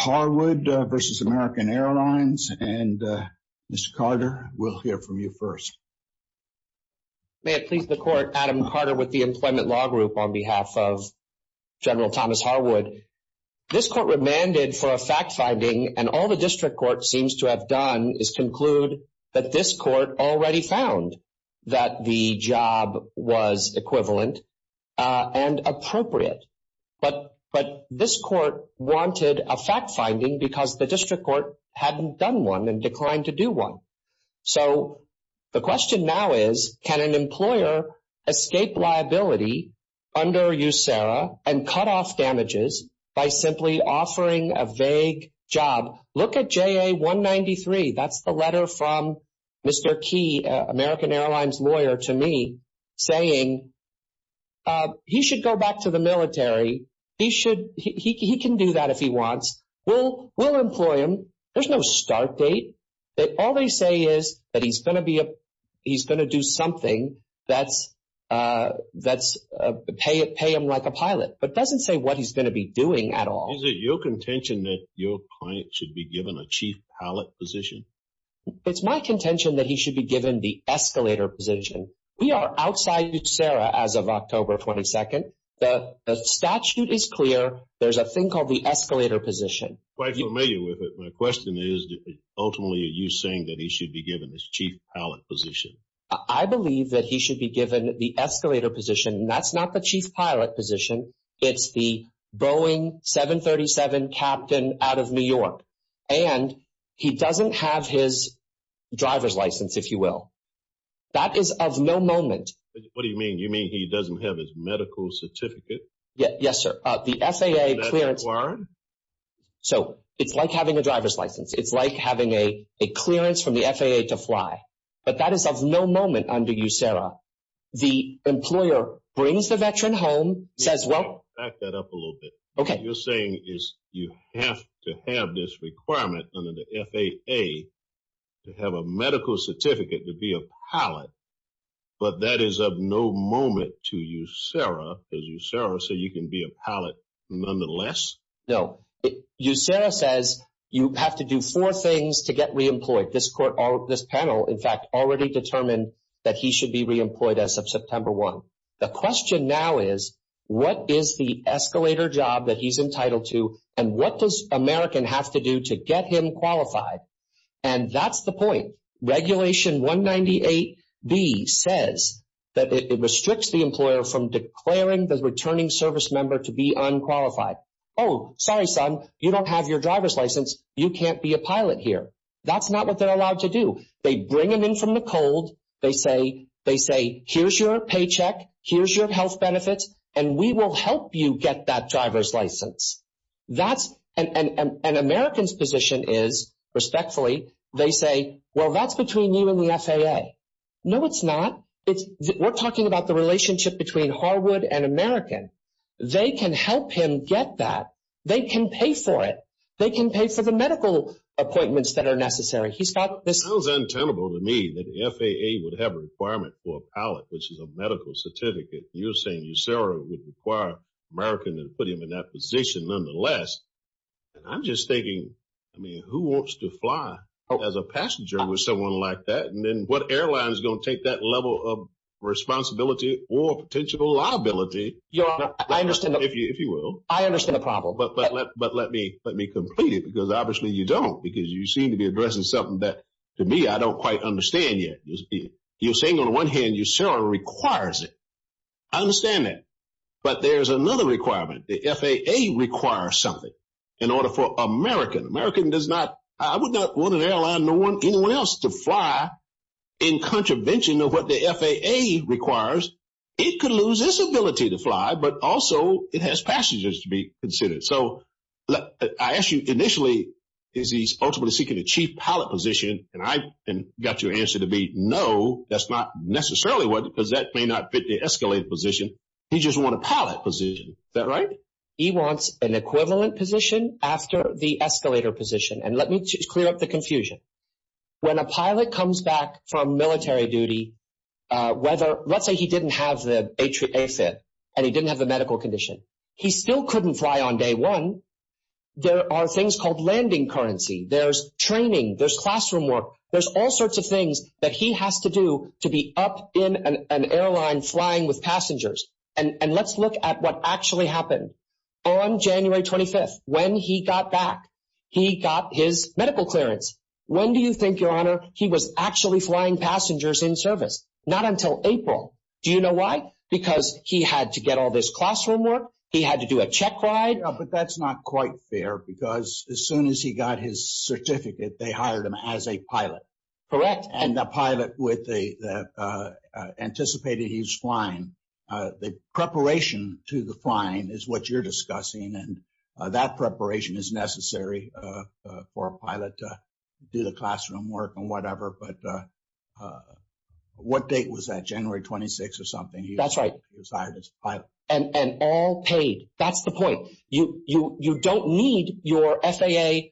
Mr. Carter, we'll hear from you first. May it please the Court, Adam Carter with the Employment Law Group on behalf of General Thomas Harwood. This Court remanded for a fact-finding, and all the District Court seems to have done is conclude that this Court already found that the job was equivalent and appropriate. But this Court wanted a fact-finding because the District Court hadn't done one and declined to do one. So the question now is, can an employer escape liability under USERRA and cut off damages by simply offering a vague job? Look at JA-193. That's the letter from Mr. Key, American Airlines lawyer, to me, saying he should go back to the military, he can do that if he wants, we'll employ him, there's no start date. All they say is that he's going to do something that's going to pay him like a pilot. But it doesn't say what he's going to be doing at all. Is it your contention that your client should be given a chief pilot position? It's my contention that he should be given the escalator position. We are outside USERRA as of October 22nd. The statute is clear, there's a thing called the escalator position. Quite familiar with it. My question is, ultimately, are you saying that he should be given this chief pilot position? I believe that he should be given the escalator position, and that's not the chief pilot position, it's the Boeing 737 captain out of New York. And he doesn't have his driver's license, if you will. That is of no moment. What do you mean? You mean he doesn't have his medical certificate? Yes, sir. The FAA clearance... So, it's like having a driver's license. It's like having a clearance from the FAA to fly. But that is of no moment under USERRA. The employer brings the veteran home, says, well... Back that up a little bit. Okay. What you're saying is you have to have this requirement under the FAA to have a medical certificate to be a pilot, but that is of no moment to USERRA. Does USERRA say you can be a pilot nonetheless? No. USERRA says you have to do four things to get reemployed. This panel, in fact, already determined that he should be reemployed as of September 1. The question now is, what is the escalator job that he's entitled to, and what does American have to do to get him qualified? And that's the point. Regulation 198B says that it restricts the employer from declaring the returning service member to be unqualified. Oh, sorry, son. You don't have your driver's license. You can't be a pilot here. That's not what they're allowed to do. They bring him in from the cold. They say, here's your paycheck. Here's your health benefits, and we will help you get that driver's license. That's—and American's position is, respectfully, they say, well, that's between you and the FAA. No, it's not. We're talking about the relationship between Harwood and American. They can help him get that. They can pay for it. They can pay for the medical appointments that are necessary. He's got this— It sounds untenable to me that the FAA would have a requirement for a pilot, which is a medical certificate. You're saying USARA would require American to put him in that position nonetheless. I'm just thinking, I mean, who wants to fly as a passenger with someone like that? And then what airline is going to take that level of responsibility or potential liability? I understand the— If you will. I understand the problem. But let me complete it, because obviously you don't, because you seem to be addressing something that, to me, I don't quite understand yet. You're saying, on the one hand, USARA requires it. I understand that. But there's another requirement. The FAA requires something in order for American— American does not— I would not want an airline, no one, anyone else to fly in contravention of what the FAA requires. It could lose its ability to fly, but also it has passengers to be considered. So I ask you, initially, is he ultimately seeking a chief pilot position? And I got your answer to be, no, that's not necessarily what— because that may not fit the escalator position. He just want a pilot position. Is that right? He wants an equivalent position after the escalator position. And let me clear up the confusion. When a pilot comes back from military duty, whether— let's say he didn't have the AFIT and he didn't have the medical condition. He still couldn't fly on day one. There are things called landing currency. There's training. There's classroom work. There's all sorts of things that he has to do to be up in an airline flying with passengers. And let's look at what actually happened. On January 25th, when he got back, he got his medical clearance. When do you think, Your Honor, he was actually flying passengers in service? Not until April. Do you know why? Because he had to get all this classroom work. He had to do a check ride. But that's not quite fair because as soon as he got his certificate, they hired him as a pilot. Correct. And the pilot anticipated he was flying. The preparation to the flying is what you're discussing. And that preparation is necessary for a pilot to do the classroom work and whatever. But what date was that? January 26th or something. That's right. He was hired as a pilot. And all paid. That's the point. You don't need your FAA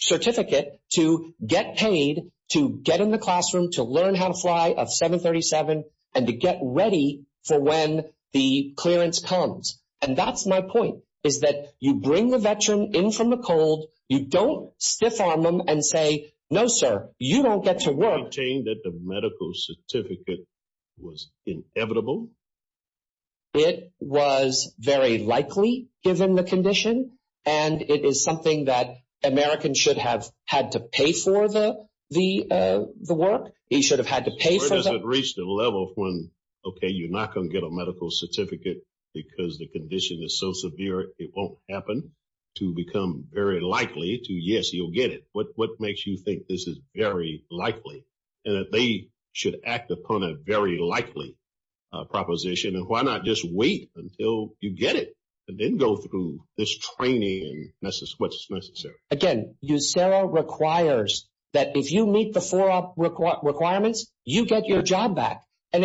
certificate to get paid, to get in the classroom, to learn how to fly a 737, and to get ready for when the clearance comes. And that's my point, is that you bring the veteran in from the cold. You don't stiff arm them and say, no, sir, you don't get to work. You're saying that the medical certificate was inevitable? It was very likely, given the condition. And it is something that Americans should have had to pay for the work. He should have had to pay for them. Where does it reach the level of when, OK, you're not going to get a medical certificate because the condition is so severe, it won't happen, to become very likely to, yes, you'll get it. What makes you think this is very likely? And that they should act upon a very likely proposition? And why not just wait until you get it, and then go through this training, and what's necessary? Again, USERRA requires that if you meet the FORA requirements, you get your job back. And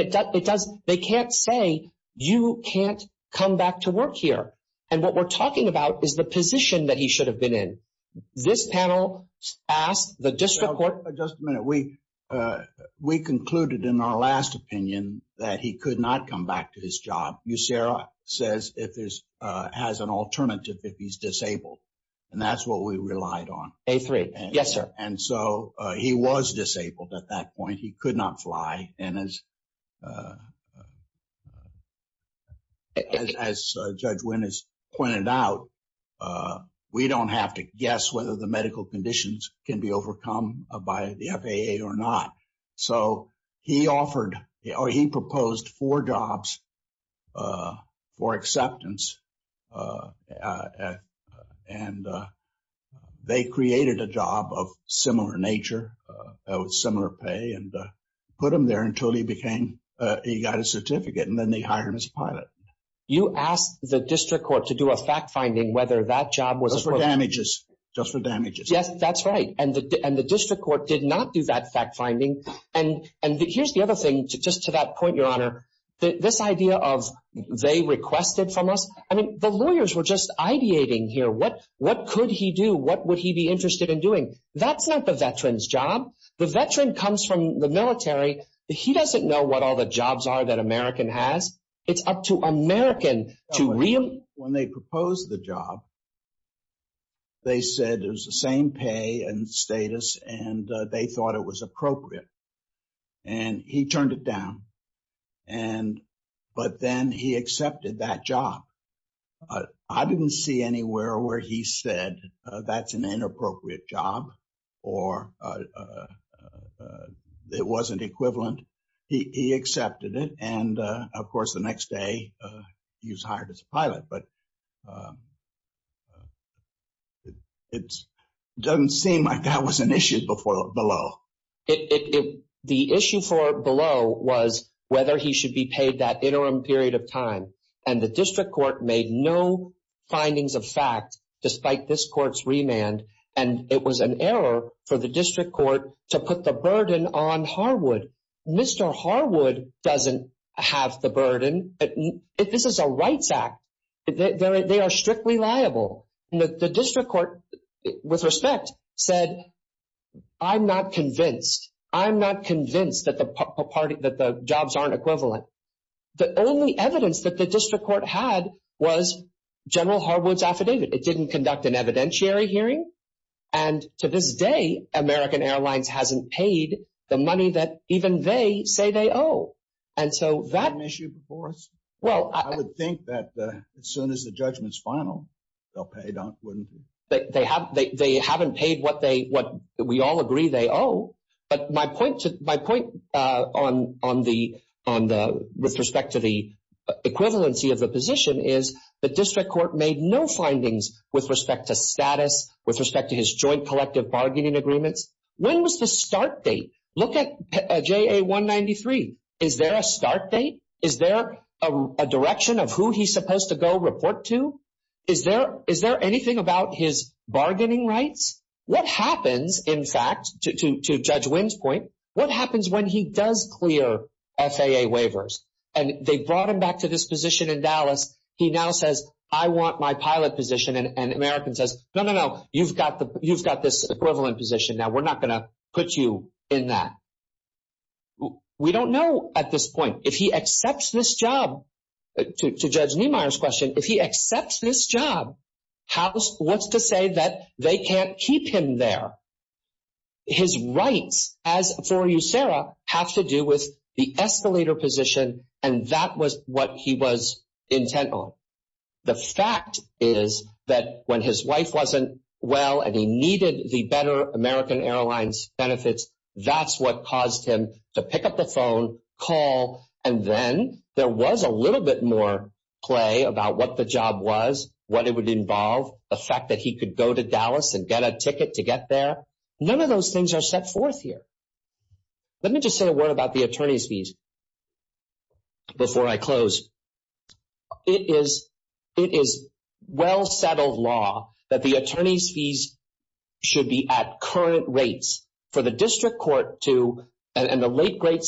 they can't say, you can't come back to work here. And what we're talking about is the position that he should have been in. This panel asked the district court- Just a minute. We concluded in our last opinion that he could not come back to his job. USERRA says it has an alternative if he's disabled. And that's what we relied on. A3. Yes, sir. And so he was disabled at that point. He could not fly. And as Judge Winn has pointed out, we don't have to guess whether the medical conditions can be overcome by the FAA or not. So he proposed four jobs for acceptance. And they created a job of similar nature, with similar pay, and put him there until he got a certificate. And then they hired him as a pilot. You asked the district court to do a fact-finding whether that job was- Just for damages. Just for damages. That's right. And the district court did not do that fact-finding. And here's the other thing, just to that point, Your Honor, this idea of they requested from us. I mean, the lawyers were just ideating here. What could he do? What would he be interested in doing? That's not the veteran's job. The veteran comes from the military. He doesn't know what all the jobs are that American has. It's up to American to- When they proposed the job, they said it was the same pay and status, and they thought it was appropriate. And he turned it down. But then he accepted that job. I didn't see anywhere where he said that's an inappropriate job, or it wasn't equivalent. He accepted it. Of course, the next day, he was hired as a pilot. But it doesn't seem like that was an issue below. The issue for below was whether he should be paid that interim period of time. And the district court made no findings of fact, despite this court's remand. And it was an error for the district court to put the burden on Harwood. Mr. Harwood doesn't have the burden. This is a rights act. They are strictly liable. The district court, with respect, said, I'm not convinced. I'm not convinced that the jobs aren't equivalent. The only evidence that the district court had was General Harwood's affidavit. It didn't conduct an evidentiary hearing. And to this day, American Airlines hasn't paid the money that even they say they owe. And so that issue before us. Well, I would think that as soon as the judgment's final, they'll pay, don't they? They haven't paid what we all agree they owe. But my point with respect to the equivalency of the position is the district court made no findings with respect to status, with respect to his joint collective bargaining agreements. When was the start date? Look at JA193. Is there a start date? Is there a direction of who he's supposed to go report to? Is there anything about his bargaining rights? What happens, in fact, to Judge Wynn's point, what happens when he does clear FAA waivers? And they brought him back to this position in Dallas. He now says, I want my pilot position. And American says, no, no, no, you've got this equivalent position. Now, we're not going to put you in that. We don't know at this point. If he accepts this job, to Judge Niemeyer's question, if he accepts this job, what's to say that they can't keep him there? His rights, as for you, Sarah, have to do with the escalator position. And that was what he was intent on. The fact is that when his wife wasn't well and he needed the better American Airlines benefits, that's what caused him to pick up the phone, call. And then there was a little bit more play about what the job was, what it would involve, the fact that he could go to Dallas and get a ticket to get there. None of those things are set forth here. Let me just say a word about the attorney's fees. Before I close, it is well-settled law that the attorney's fees should be at current rates. For the district court to, and the late, great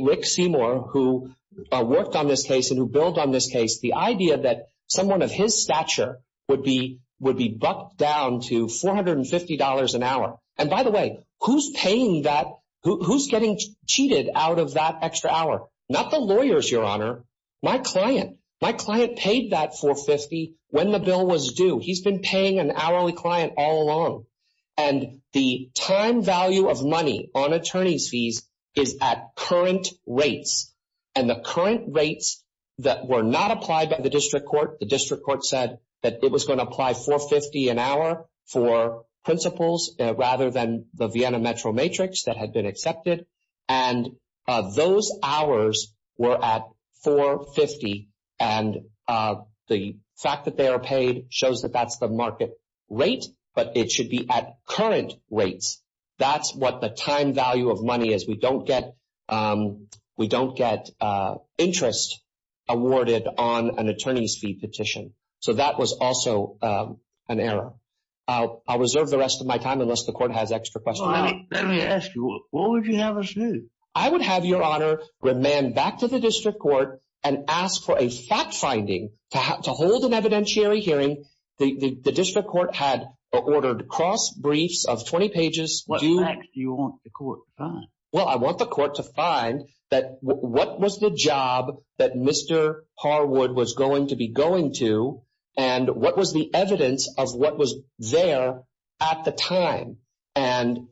Rick Seymour, who worked on this case and who billed on this case, the idea that someone of his stature would be bucked down to $450 an hour. And by the way, who's getting cheated out of that extra hour? Not the lawyers, Your Honor, my client. My client paid that $450 when the bill was due. He's been paying an hourly client all along. And the time value of money on attorney's fees is at current rates. And the current rates that were not applied by the district court, the district court said that it was going to apply $450 an hour for principles rather than the Vienna Metro Matrix that had been accepted. And those hours were at $450. And the fact that they are paid shows that that's the market rate, but it should be at current rates. That's what the time value of money is. We don't get interest awarded on an attorney's fee petition. So that was also an error. I'll reserve the rest of my time unless the court has extra questions. Well, let me ask you, what would you have us do? I would have Your Honor remand back to the district court and ask for a fact finding to hold an evidentiary hearing. The district court had ordered cross briefs of 20 pages. What facts do you want the court to find? Well, I want the court to find that what was the job that Mr. Harwood was going to be going and what was the evidence of what was there at the time and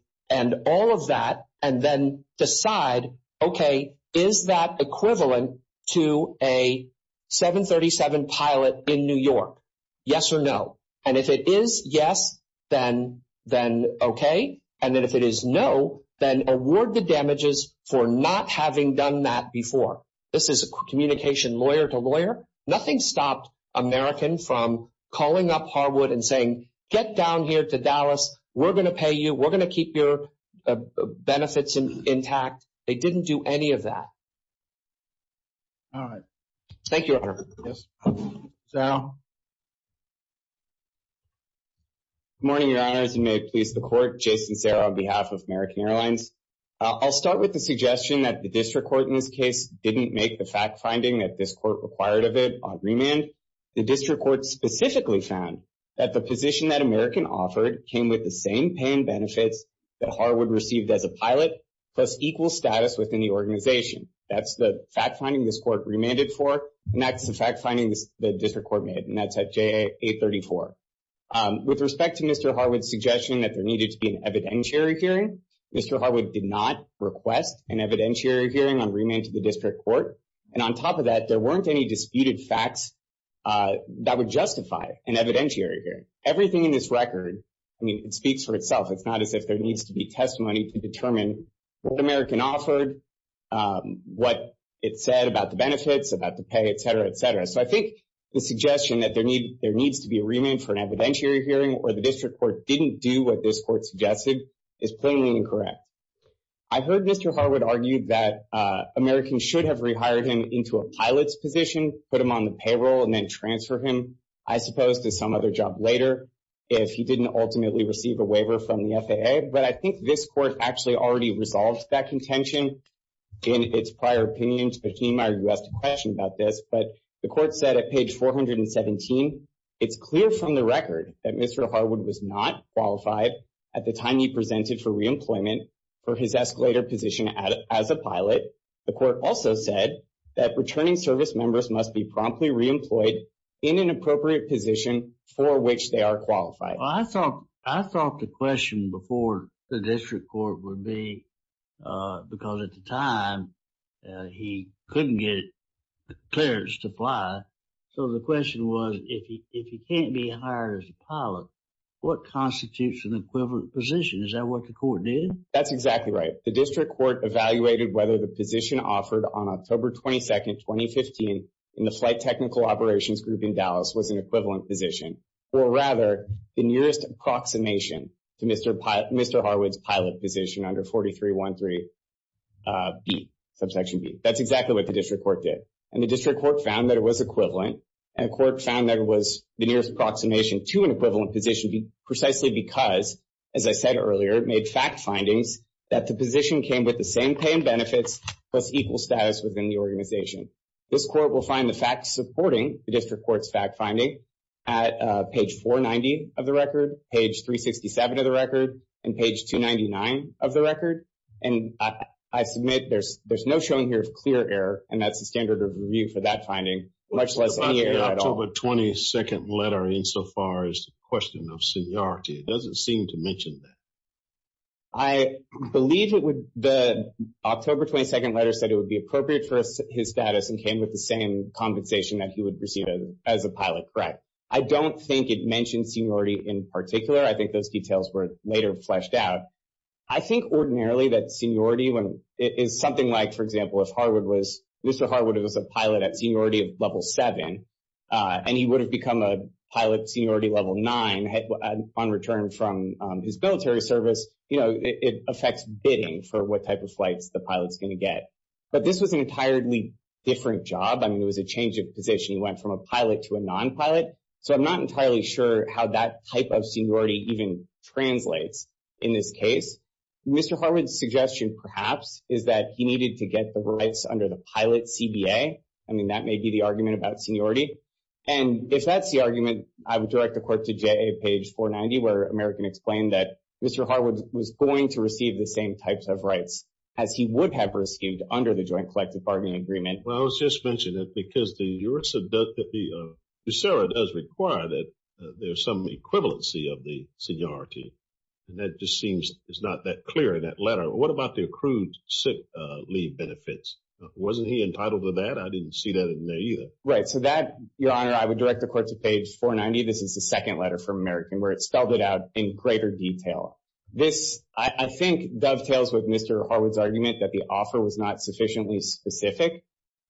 all of that. And then decide, okay, is that equivalent to a 737 pilot in New York? Yes or no. And if it is yes, then okay. And then if it is no, then award the damages for not having done that before. This is a communication lawyer to lawyer. Nothing stopped American from calling up Harwood and saying, get down here to Dallas. We're going to pay you. We're going to keep your benefits intact. They didn't do any of that. All right. Thank you, Your Honor. Sarah. Good morning, Your Honors. And may it please the court, Jason Serra on behalf of American Airlines. I'll start with the suggestion that the district court in this case didn't make the fact finding that this court required of it on remand. The district court specifically found that the position that American offered came with the same pay and benefits that Harwood received as a pilot plus equal status within the organization. That's the fact finding this court remanded for. And that's the fact finding the district court made. And that's at JA 834. With respect to Mr. Harwood's suggestion that there needed to be an evidentiary hearing, Mr. Harwood did not request an evidentiary hearing on remand to the district court. And on top of that, there weren't any disputed facts that would justify an evidentiary hearing. Everything in this record, I mean, it speaks for itself. It's not as if there needs to be testimony to determine what American offered, what it said about the benefits, about the pay, et cetera, et cetera. So I think the suggestion that there needs to be a remand for an evidentiary hearing or the district court didn't do what this court suggested is plainly incorrect. I've heard Mr. Harwood argued that American should have rehired him into a pilot's position, put him on the payroll, and then transfer him, I suppose, to some other job later if he didn't ultimately receive a waiver from the FAA. But I think this court actually already resolved that contention in its prior opinions. But Jeanne Meyer, you asked a question about this. But the court said at page 417, it's clear from the record that Mr. Harwood was not qualified at the time you presented for reemployment for his escalator position as a pilot. The court also said that returning service members must be promptly reemployed in an appropriate position for which they are qualified. Well, I thought the question before the district court would be, because at the time he couldn't get clearance to fly. So the question was, if he can't be hired as a pilot, what constitutes an equivalent position? Is that what the court did? That's exactly right. The district court evaluated whether the position offered on October 22, 2015, in the flight technical operations group in Dallas was an equivalent position. Or rather, the nearest approximation to Mr. Harwood's pilot position under 4313b, subsection b. That's exactly what the district court did. And the district court found that it was equivalent. And the court found that it was the nearest approximation to an equivalent position, precisely because, as I said earlier, it made fact findings that the position came with the same pay and benefits plus equal status within the organization. This court will find the facts supporting the district court's fact finding at page 490 of the record, page 367 of the record, and page 299 of the record. And I submit there's no showing here of clear error. And that's the standard of review for that finding, much less any error at all. The October 22nd letter, insofar as the question of seniority, doesn't seem to mention that. I believe the October 22nd letter said it would be appropriate for his status and came with the same compensation that he would receive as a pilot. Correct. I don't think it mentioned seniority in particular. I think those details were later fleshed out. I think ordinarily that seniority is something like, for example, Mr. Harwood was a pilot at seniority level 7, and he would have become a pilot seniority level 9 on return from his military service. You know, it affects bidding for what type of flights the pilot's going to get. But this was an entirely different job. I mean, it was a change of position. He went from a pilot to a non-pilot. So I'm not entirely sure how that type of seniority even translates in this case. Mr. Harwood's suggestion, perhaps, is that he needed to get the rights under the pilot CBA. I mean, that may be the argument about seniority. And if that's the argument, I would direct the court to J.A. page 490, where American explained that Mr. Harwood was going to receive the same types of rights as he would have received under the Joint Collective Bargaining Agreement. Well, I was just mentioning that because the USERRA does require that there's some equivalency of the seniority. And that just seems it's not that clear in that letter. What about the accrued sick leave benefits? Wasn't he entitled to that? I didn't see that in there either. Right. So that, Your Honor, I would direct the court to page 490. This is the second letter from American where it spelled it out in greater detail. This, I think, dovetails with Mr. Harwood's argument that the offer was not sufficiently specific.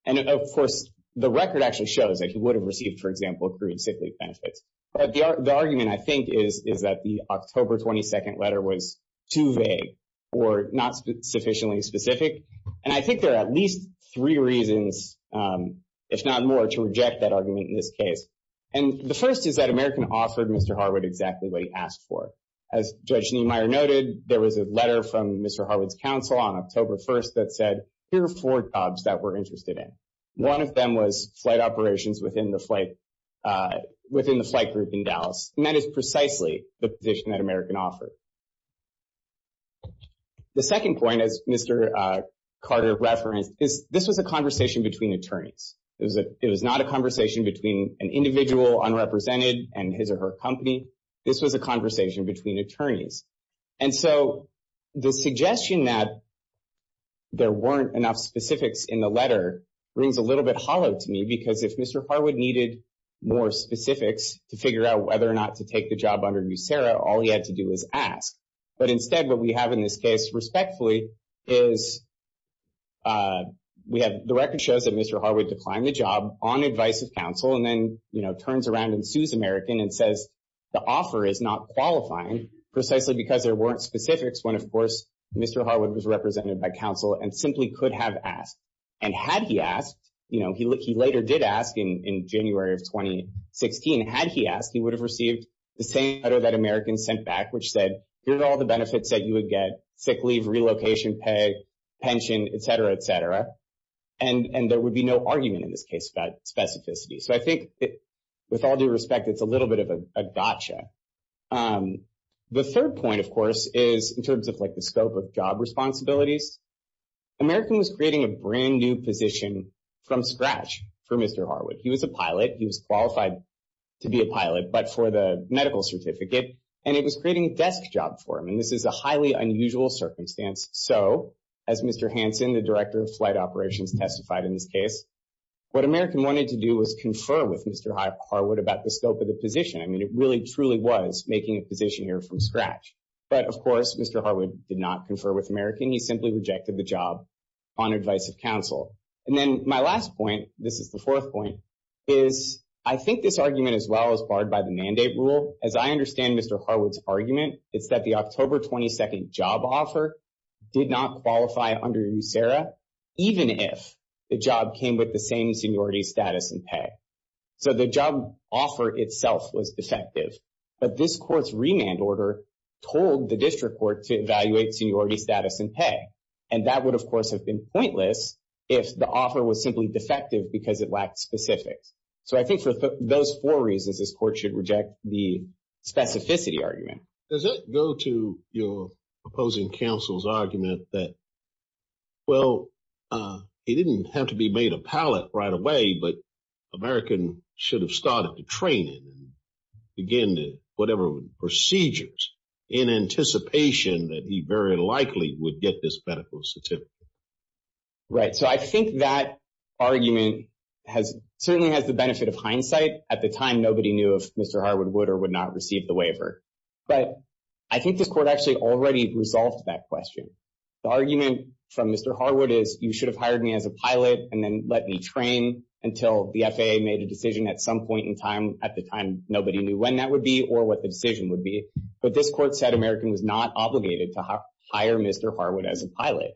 And of course, the record actually shows that he would have received, for example, accrued sick leave benefits. But the argument, I think, is that the October 22 letter was too vague or not sufficiently specific. And I think there are at least three reasons, if not more, to reject that argument in this case. And the first is that American offered Mr. Harwood exactly what he asked for. As Judge Niemeyer noted, there was a letter from Mr. Harwood's counsel on October 1st that said, here are four jobs that we're interested in. One of them was flight operations within the flight group in Dallas. And that is precisely the position that American offered. The second point, as Mr. Carter referenced, is this was a conversation between attorneys. It was not a conversation between an individual unrepresented and his or her company. This was a conversation between attorneys. And so the suggestion that there weren't enough specifics in the letter rings a little bit hollow to me. Because if Mr. Harwood needed more specifics to figure out whether or not to take the job under USERRA, all he had to do was ask. But instead, what we have in this case, respectfully, is we have the record shows that Mr. Harwood declined the job on advice of counsel and then turns around and sues American and says the offer is not qualifying, precisely because there weren't specifics when, of course, Mr. Harwood was represented by counsel and simply could have asked. And had he asked, you know, he later did ask in January of 2016, had he asked, he would have received the same letter that American sent back, which said, here are all the benefits that you would get, sick leave, relocation, pay, pension, et cetera, et cetera. And there would be no argument in this case about specificity. So I think with all due respect, it's a little bit of a gotcha. The third point, of course, is in terms of like the scope of job responsibilities. American was creating a brand new position from scratch for Mr. Harwood. He was a pilot. He was qualified to be a pilot, but for the medical certificate. And it was creating a desk job for him. And this is a highly unusual circumstance. So as Mr. Hansen, the director of flight operations testified in this case, what American wanted to do was confer with Mr. Harwood about the scope of the position. I mean, it really, truly was making a position here from scratch. But of course, Mr. Harwood did not confer with American. He simply rejected the job on advice of counsel. And then my last point, this is the fourth point, is I think this argument, as well as barred by the mandate rule, as I understand Mr. Harwood's argument, it's that the October 22nd job offer did not qualify under USERRA, even if the job came with the same seniority status and pay. So the job offer itself was defective. But this court's remand order told the district court to evaluate seniority status and pay. And that would, of course, have been pointless if the offer was simply defective because it lacked specifics. So I think for those four reasons, this court should reject the specificity argument. MR. HANSEN Does that go to your opposing counsel's argument that, well, it didn't have to be made a pilot right away, but American should have started the training and began whatever procedures in anticipation that he very likely would get this medical certificate? MR. GOLDSTEIN Right. So I think that argument certainly has the benefit of hindsight. At the time, nobody knew if Mr. Harwood would or would not receive the waiver. But I think this court actually already resolved that question. The argument from Mr. Harwood is you should have hired me as a pilot and then let me train until the FAA made a decision at some point in time. At the time, nobody knew when that would be or what the decision would be. But this court said American was not obligated to hire Mr. Harwood as a pilot.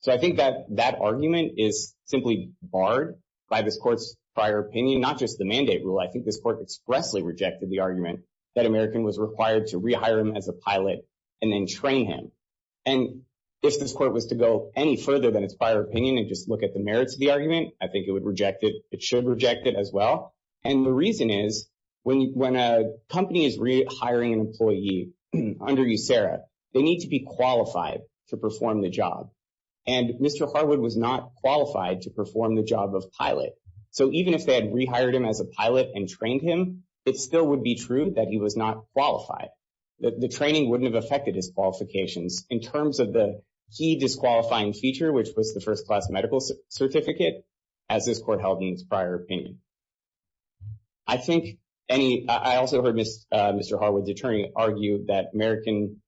So I think that that argument is simply barred by this court's prior opinion, not just the mandate rule. I think this court expressly rejected the argument that American was required to rehire him as a pilot and then train him. And if this court was to go any further than its prior opinion and just look at the merits of the argument, I think it would reject it. It should reject it as well. And the reason is when a company is rehiring an employee under USERRA, they need to be qualified to perform the job. And Mr. Harwood was not qualified to perform the job of pilot. So even if they had rehired him as a pilot and trained him, it still would be true that he was not qualified. The training wouldn't have affected his qualifications in terms of the key disqualifying feature, which was the first class medical certificate, as this court held in its prior opinion. I think any, I also heard Mr. Harwood's attorney argue that American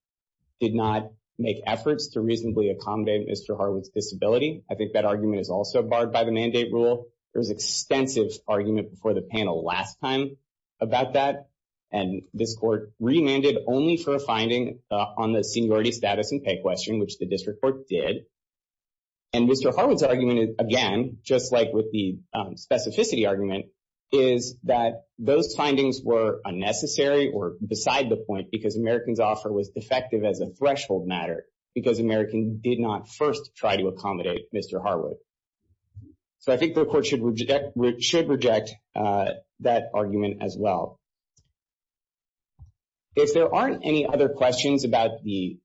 did not make efforts to reasonably accommodate Mr. Harwood's disability. I think that argument is also barred by the mandate rule. There was extensive argument before the panel last time about that. And this court remanded only for a finding on the seniority status and pay question, which the district court did. And Mr. Harwood's argument again, just like with the specificity argument, is that those findings were unnecessary or beside the point because American's offer was defective as a threshold matter because American did not first try to accommodate Mr. Harwood. So I think the court should reject that argument as well. If there aren't any other questions about the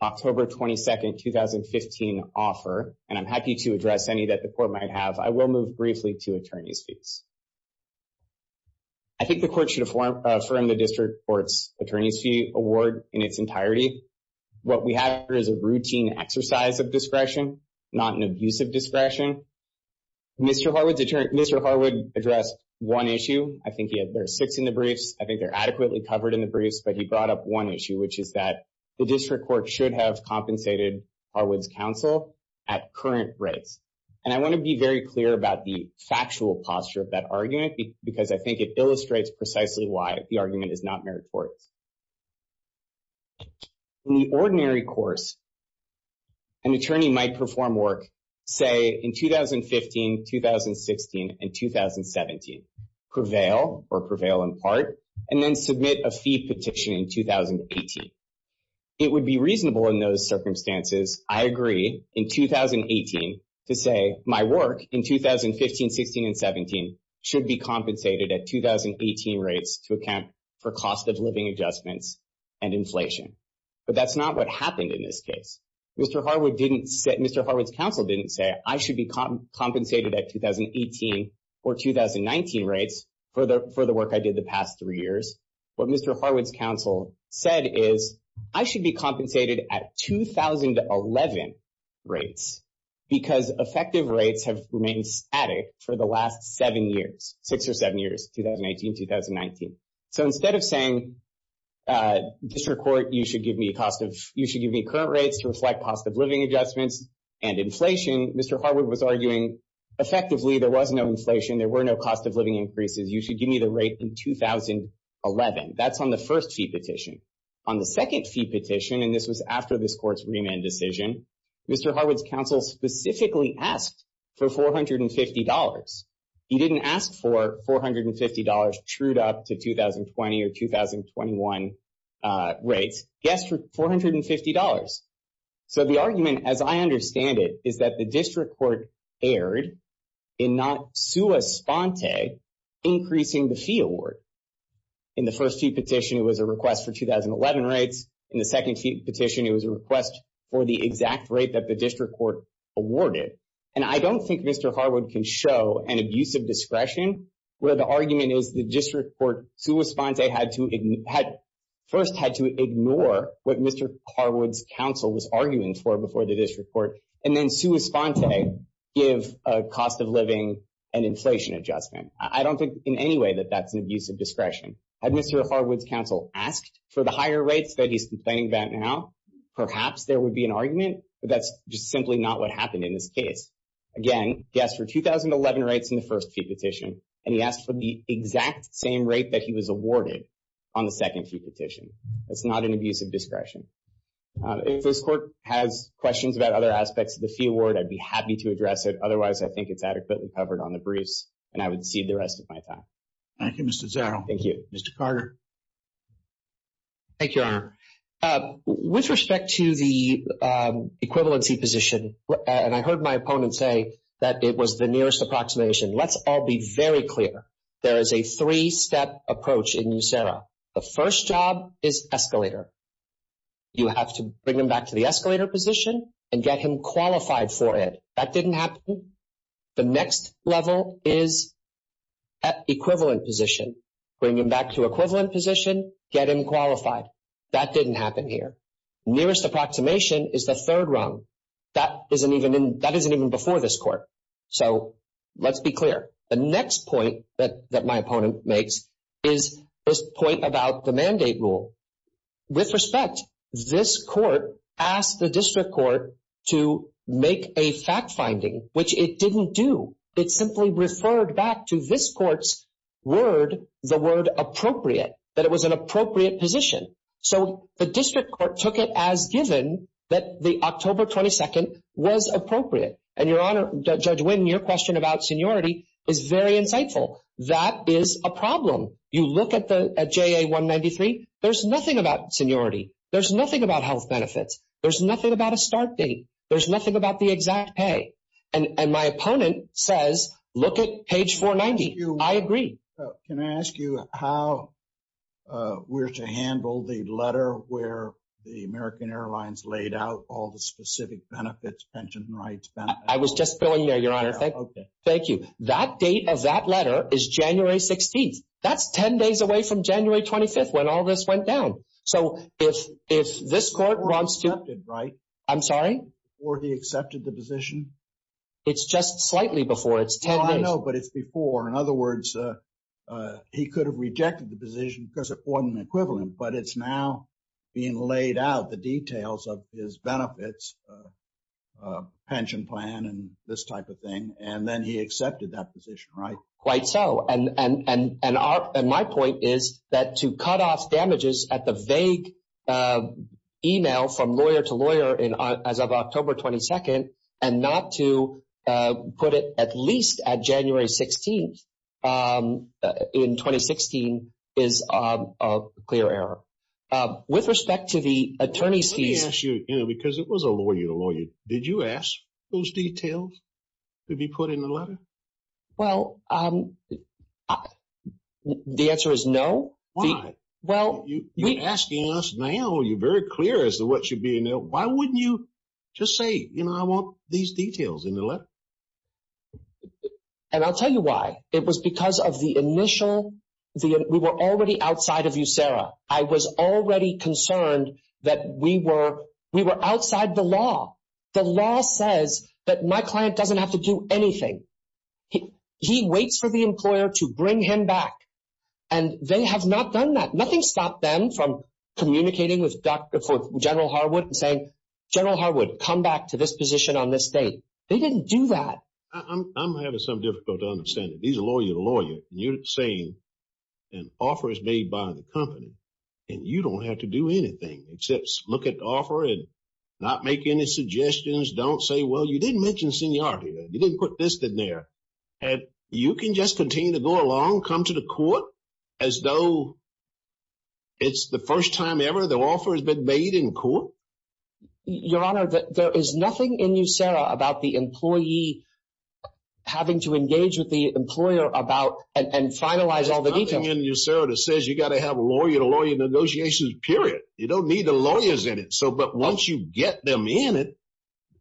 October 22nd, 2015 offer, and I'm happy to address any that the court might have, I will move briefly to attorney's fees. I think the court should affirm the district court's attorney's fee award in its entirety. What we have here is a routine exercise of discretion, not an abusive discretion. Mr. Harwood addressed one issue. I think he had, there are six in this case. I think they're adequately covered in the briefs, but he brought up one issue, which is that the district court should have compensated Harwood's counsel at current rates. And I wanna be very clear about the factual posture of that argument because I think it illustrates precisely why the argument is not meritorious. In the ordinary course, an attorney might perform work, say in 2015, 2016, and 2017, prevail or prevail in part, and then submit a fee petition in 2018. It would be reasonable in those circumstances, I agree in 2018 to say my work in 2015, 16, and 17 should be compensated at 2018 rates to account for cost of living adjustments and inflation. But that's not what happened in this case. Mr. Harwood's counsel didn't say I should be compensated at 2018 or 2019 rates for the work I did the past three years. What Mr. Harwood's counsel said is I should be compensated at 2011 rates because effective rates have remained static for the last seven years, six or seven years, 2018, 2019. So instead of saying district court, you should give me current rates to reflect cost of living adjustments and inflation, Mr. Harwood was arguing, effectively, there was no inflation. There were no cost of living increases. You should give me the rate in 2011. That's on the first fee petition. On the second fee petition, and this was after this court's remand decision, Mr. Harwood's counsel specifically asked for $450. He didn't ask for $450 trued up to 2020 or 2021 rates. He asked for $450. So the argument, as I understand it, is that the district court erred in not sua sponte, increasing the fee award. In the first fee petition, it was a request for 2011 rates. In the second fee petition, it was a request for the exact rate that the district court awarded. And I don't think Mr. Harwood can show an abuse of discretion, where the argument is the district court sua sponte had first had to ignore what Mr. Harwood's counsel was arguing for before the district court. And then sua sponte give a cost of living and inflation adjustment. I don't think in any way that that's an abuse of discretion. Had Mr. Harwood's counsel asked for the higher rates that he's complaining about now, perhaps there would be an argument, but that's just simply not what happened in this case. Again, he asked for 2011 rates in the first fee petition, and he asked for the exact same rate that he was awarded on the second fee petition. That's not an abuse of discretion. If this court has questions about other aspects of the fee award, I'd be happy to address it. Otherwise, I think it's adequately covered on the briefs and I would cede the rest of my time. Thank you, Mr. Zarrow. Thank you. Mr. Carter. Thank you, Your Honor. With respect to the equivalency position, and I heard my opponent say that it was the nearest approximation. Let's all be very clear. There is a three-step approach in USERRA. The first job is escalator. You have to bring him back to the escalator position and get him qualified for it. That didn't happen. The next level is equivalent position. Bring him back to equivalent position, get him qualified. That didn't happen here. Nearest approximation is the third rung. That isn't even before this court. So let's be clear. The next point that my opponent makes is this point about the mandate rule. With respect, this court asked the district court to make a fact-finding, which it didn't do. It simply referred back to this court's word, the word appropriate, that it was an appropriate position. So the district court took it as given that the October 22nd was appropriate. And Your Honor, Judge Wynn, your question about seniority is very insightful. That is a problem. You look at the JA-193, there's nothing about seniority. There's nothing about health benefits. There's nothing about a start date. There's nothing about the exact pay. And my opponent says, look at page 490. I agree. Can I ask you how we're to handle the letter where the American Airlines laid out all the specific benefits, pension rights benefits? I was just filling there, Your Honor. Thank you. That date of that letter is January 16th. That's 10 days away from January 25th, when all this went down. So if this court wants to- Before he accepted, right? I'm sorry? Before he accepted the position? It's just slightly before. It's 10 days- I know, but it's before. In other words, he could have rejected the position because it wasn't equivalent, but it's now being laid out, the details of his benefits, pension plan and this type of thing. And then he accepted that position, right? Quite so. And my point is that to cut off damages at the vague email from lawyer to lawyer as of October 22nd, and not to put it at least at January 16th in 2016 is a clear error. With respect to the attorney's fees- Let me ask you, because it was a lawyer to lawyer. Did you ask those details to be put in the letter? Well, the answer is no. Why? You're asking us now. You're very clear as to what should be in there. Why wouldn't you just say, you know, I want these details in the letter? And I'll tell you why. It was because of the initial- We were already outside of you, Sarah. I was already concerned that we were outside the law. The law says that my client doesn't have to do anything. He waits for the employer to bring him back. And they have not done that. Nothing stopped them from communicating with General Harwood and saying, General Harwood, come back to this position on this date. They didn't do that. I'm having some difficulty understanding. These are lawyer to lawyer. You're saying an offer is made by the company and you don't have to do anything except look at the offer and not make any suggestions. Don't say, well, you didn't mention seniority. You didn't put this in there. And you can just continue to go along, come to the court as though it's the first time ever the offer has been made in court. Your Honor, there is nothing in you, Sarah, about the employee having to engage with the employer about and finalize all the details. There's nothing in you, Sarah, that says you got to have lawyer to lawyer negotiations, period. You don't need the lawyers in it. So, but once you get them in it,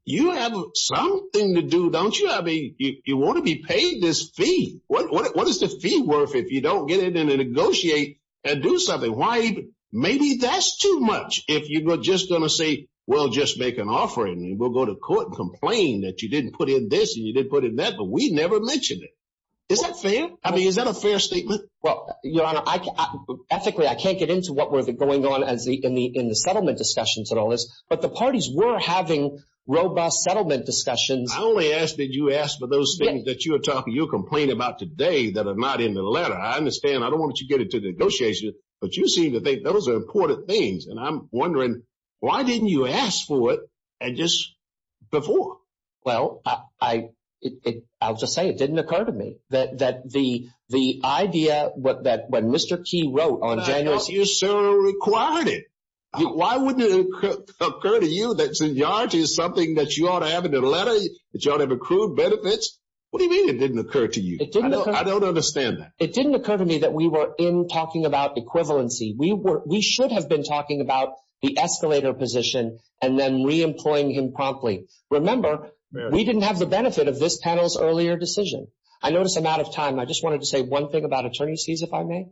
you have something to do, don't you? I mean, you want to be paid this fee. What is the fee worth if you don't get in and negotiate and do something? Why, maybe that's too much if you're just going to say, well, just make an offering and we'll go to court and complain that you didn't put in this and you didn't put in that, but we never mentioned it. Is that fair? I mean, is that a fair statement? Well, Your Honor, ethically, I can't get into what was going on in the settlement discussions and all this. But the parties were having robust settlement discussions. I only ask that you ask for those things that you were talking, you're complaining about today that are not in the letter. I understand. I don't want you to get into the negotiation, but you seem to think those are important things. And I'm wondering, why didn't you ask for it and just before? Well, I'll just say it didn't occur to me that the idea that when Mr. Key wrote on January 6th- But I thought you, sir, required it. Why wouldn't it occur to you that seniority is something that you ought to have in the letter, that you ought to have accrued benefits? What do you mean it didn't occur to you? I don't understand that. It didn't occur to me that we were in talking about equivalency. We should have been talking about the escalator position and then re-employing him promptly. Remember, we didn't have the benefit of this panel's earlier decision. I notice I'm out of time. I just wanted to say one thing about attorneys' fees, if I may.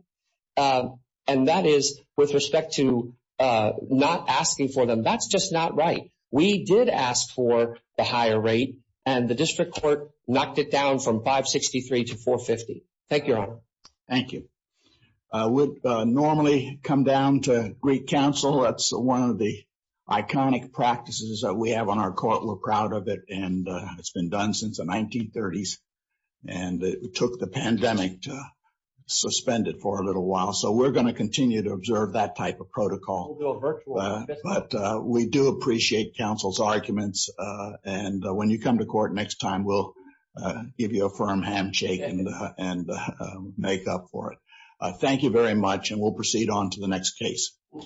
And that is with respect to not asking for them. That's just not right. We did ask for the higher rate and the district court knocked it down from 563 to 450. Thank you, Your Honor. Thank you. We normally come down to Greek Council. That's one of the iconic practices that we have on our court. We're proud of it. And it's been done since the 1930s and it took the pandemic to suspend it for a little while. So we're going to continue to observe that type of protocol. But we do appreciate counsel's arguments. And when you come to court next time, we'll give you a firm handshake and make up for it. Thank you very much. And we'll proceed on to the next case.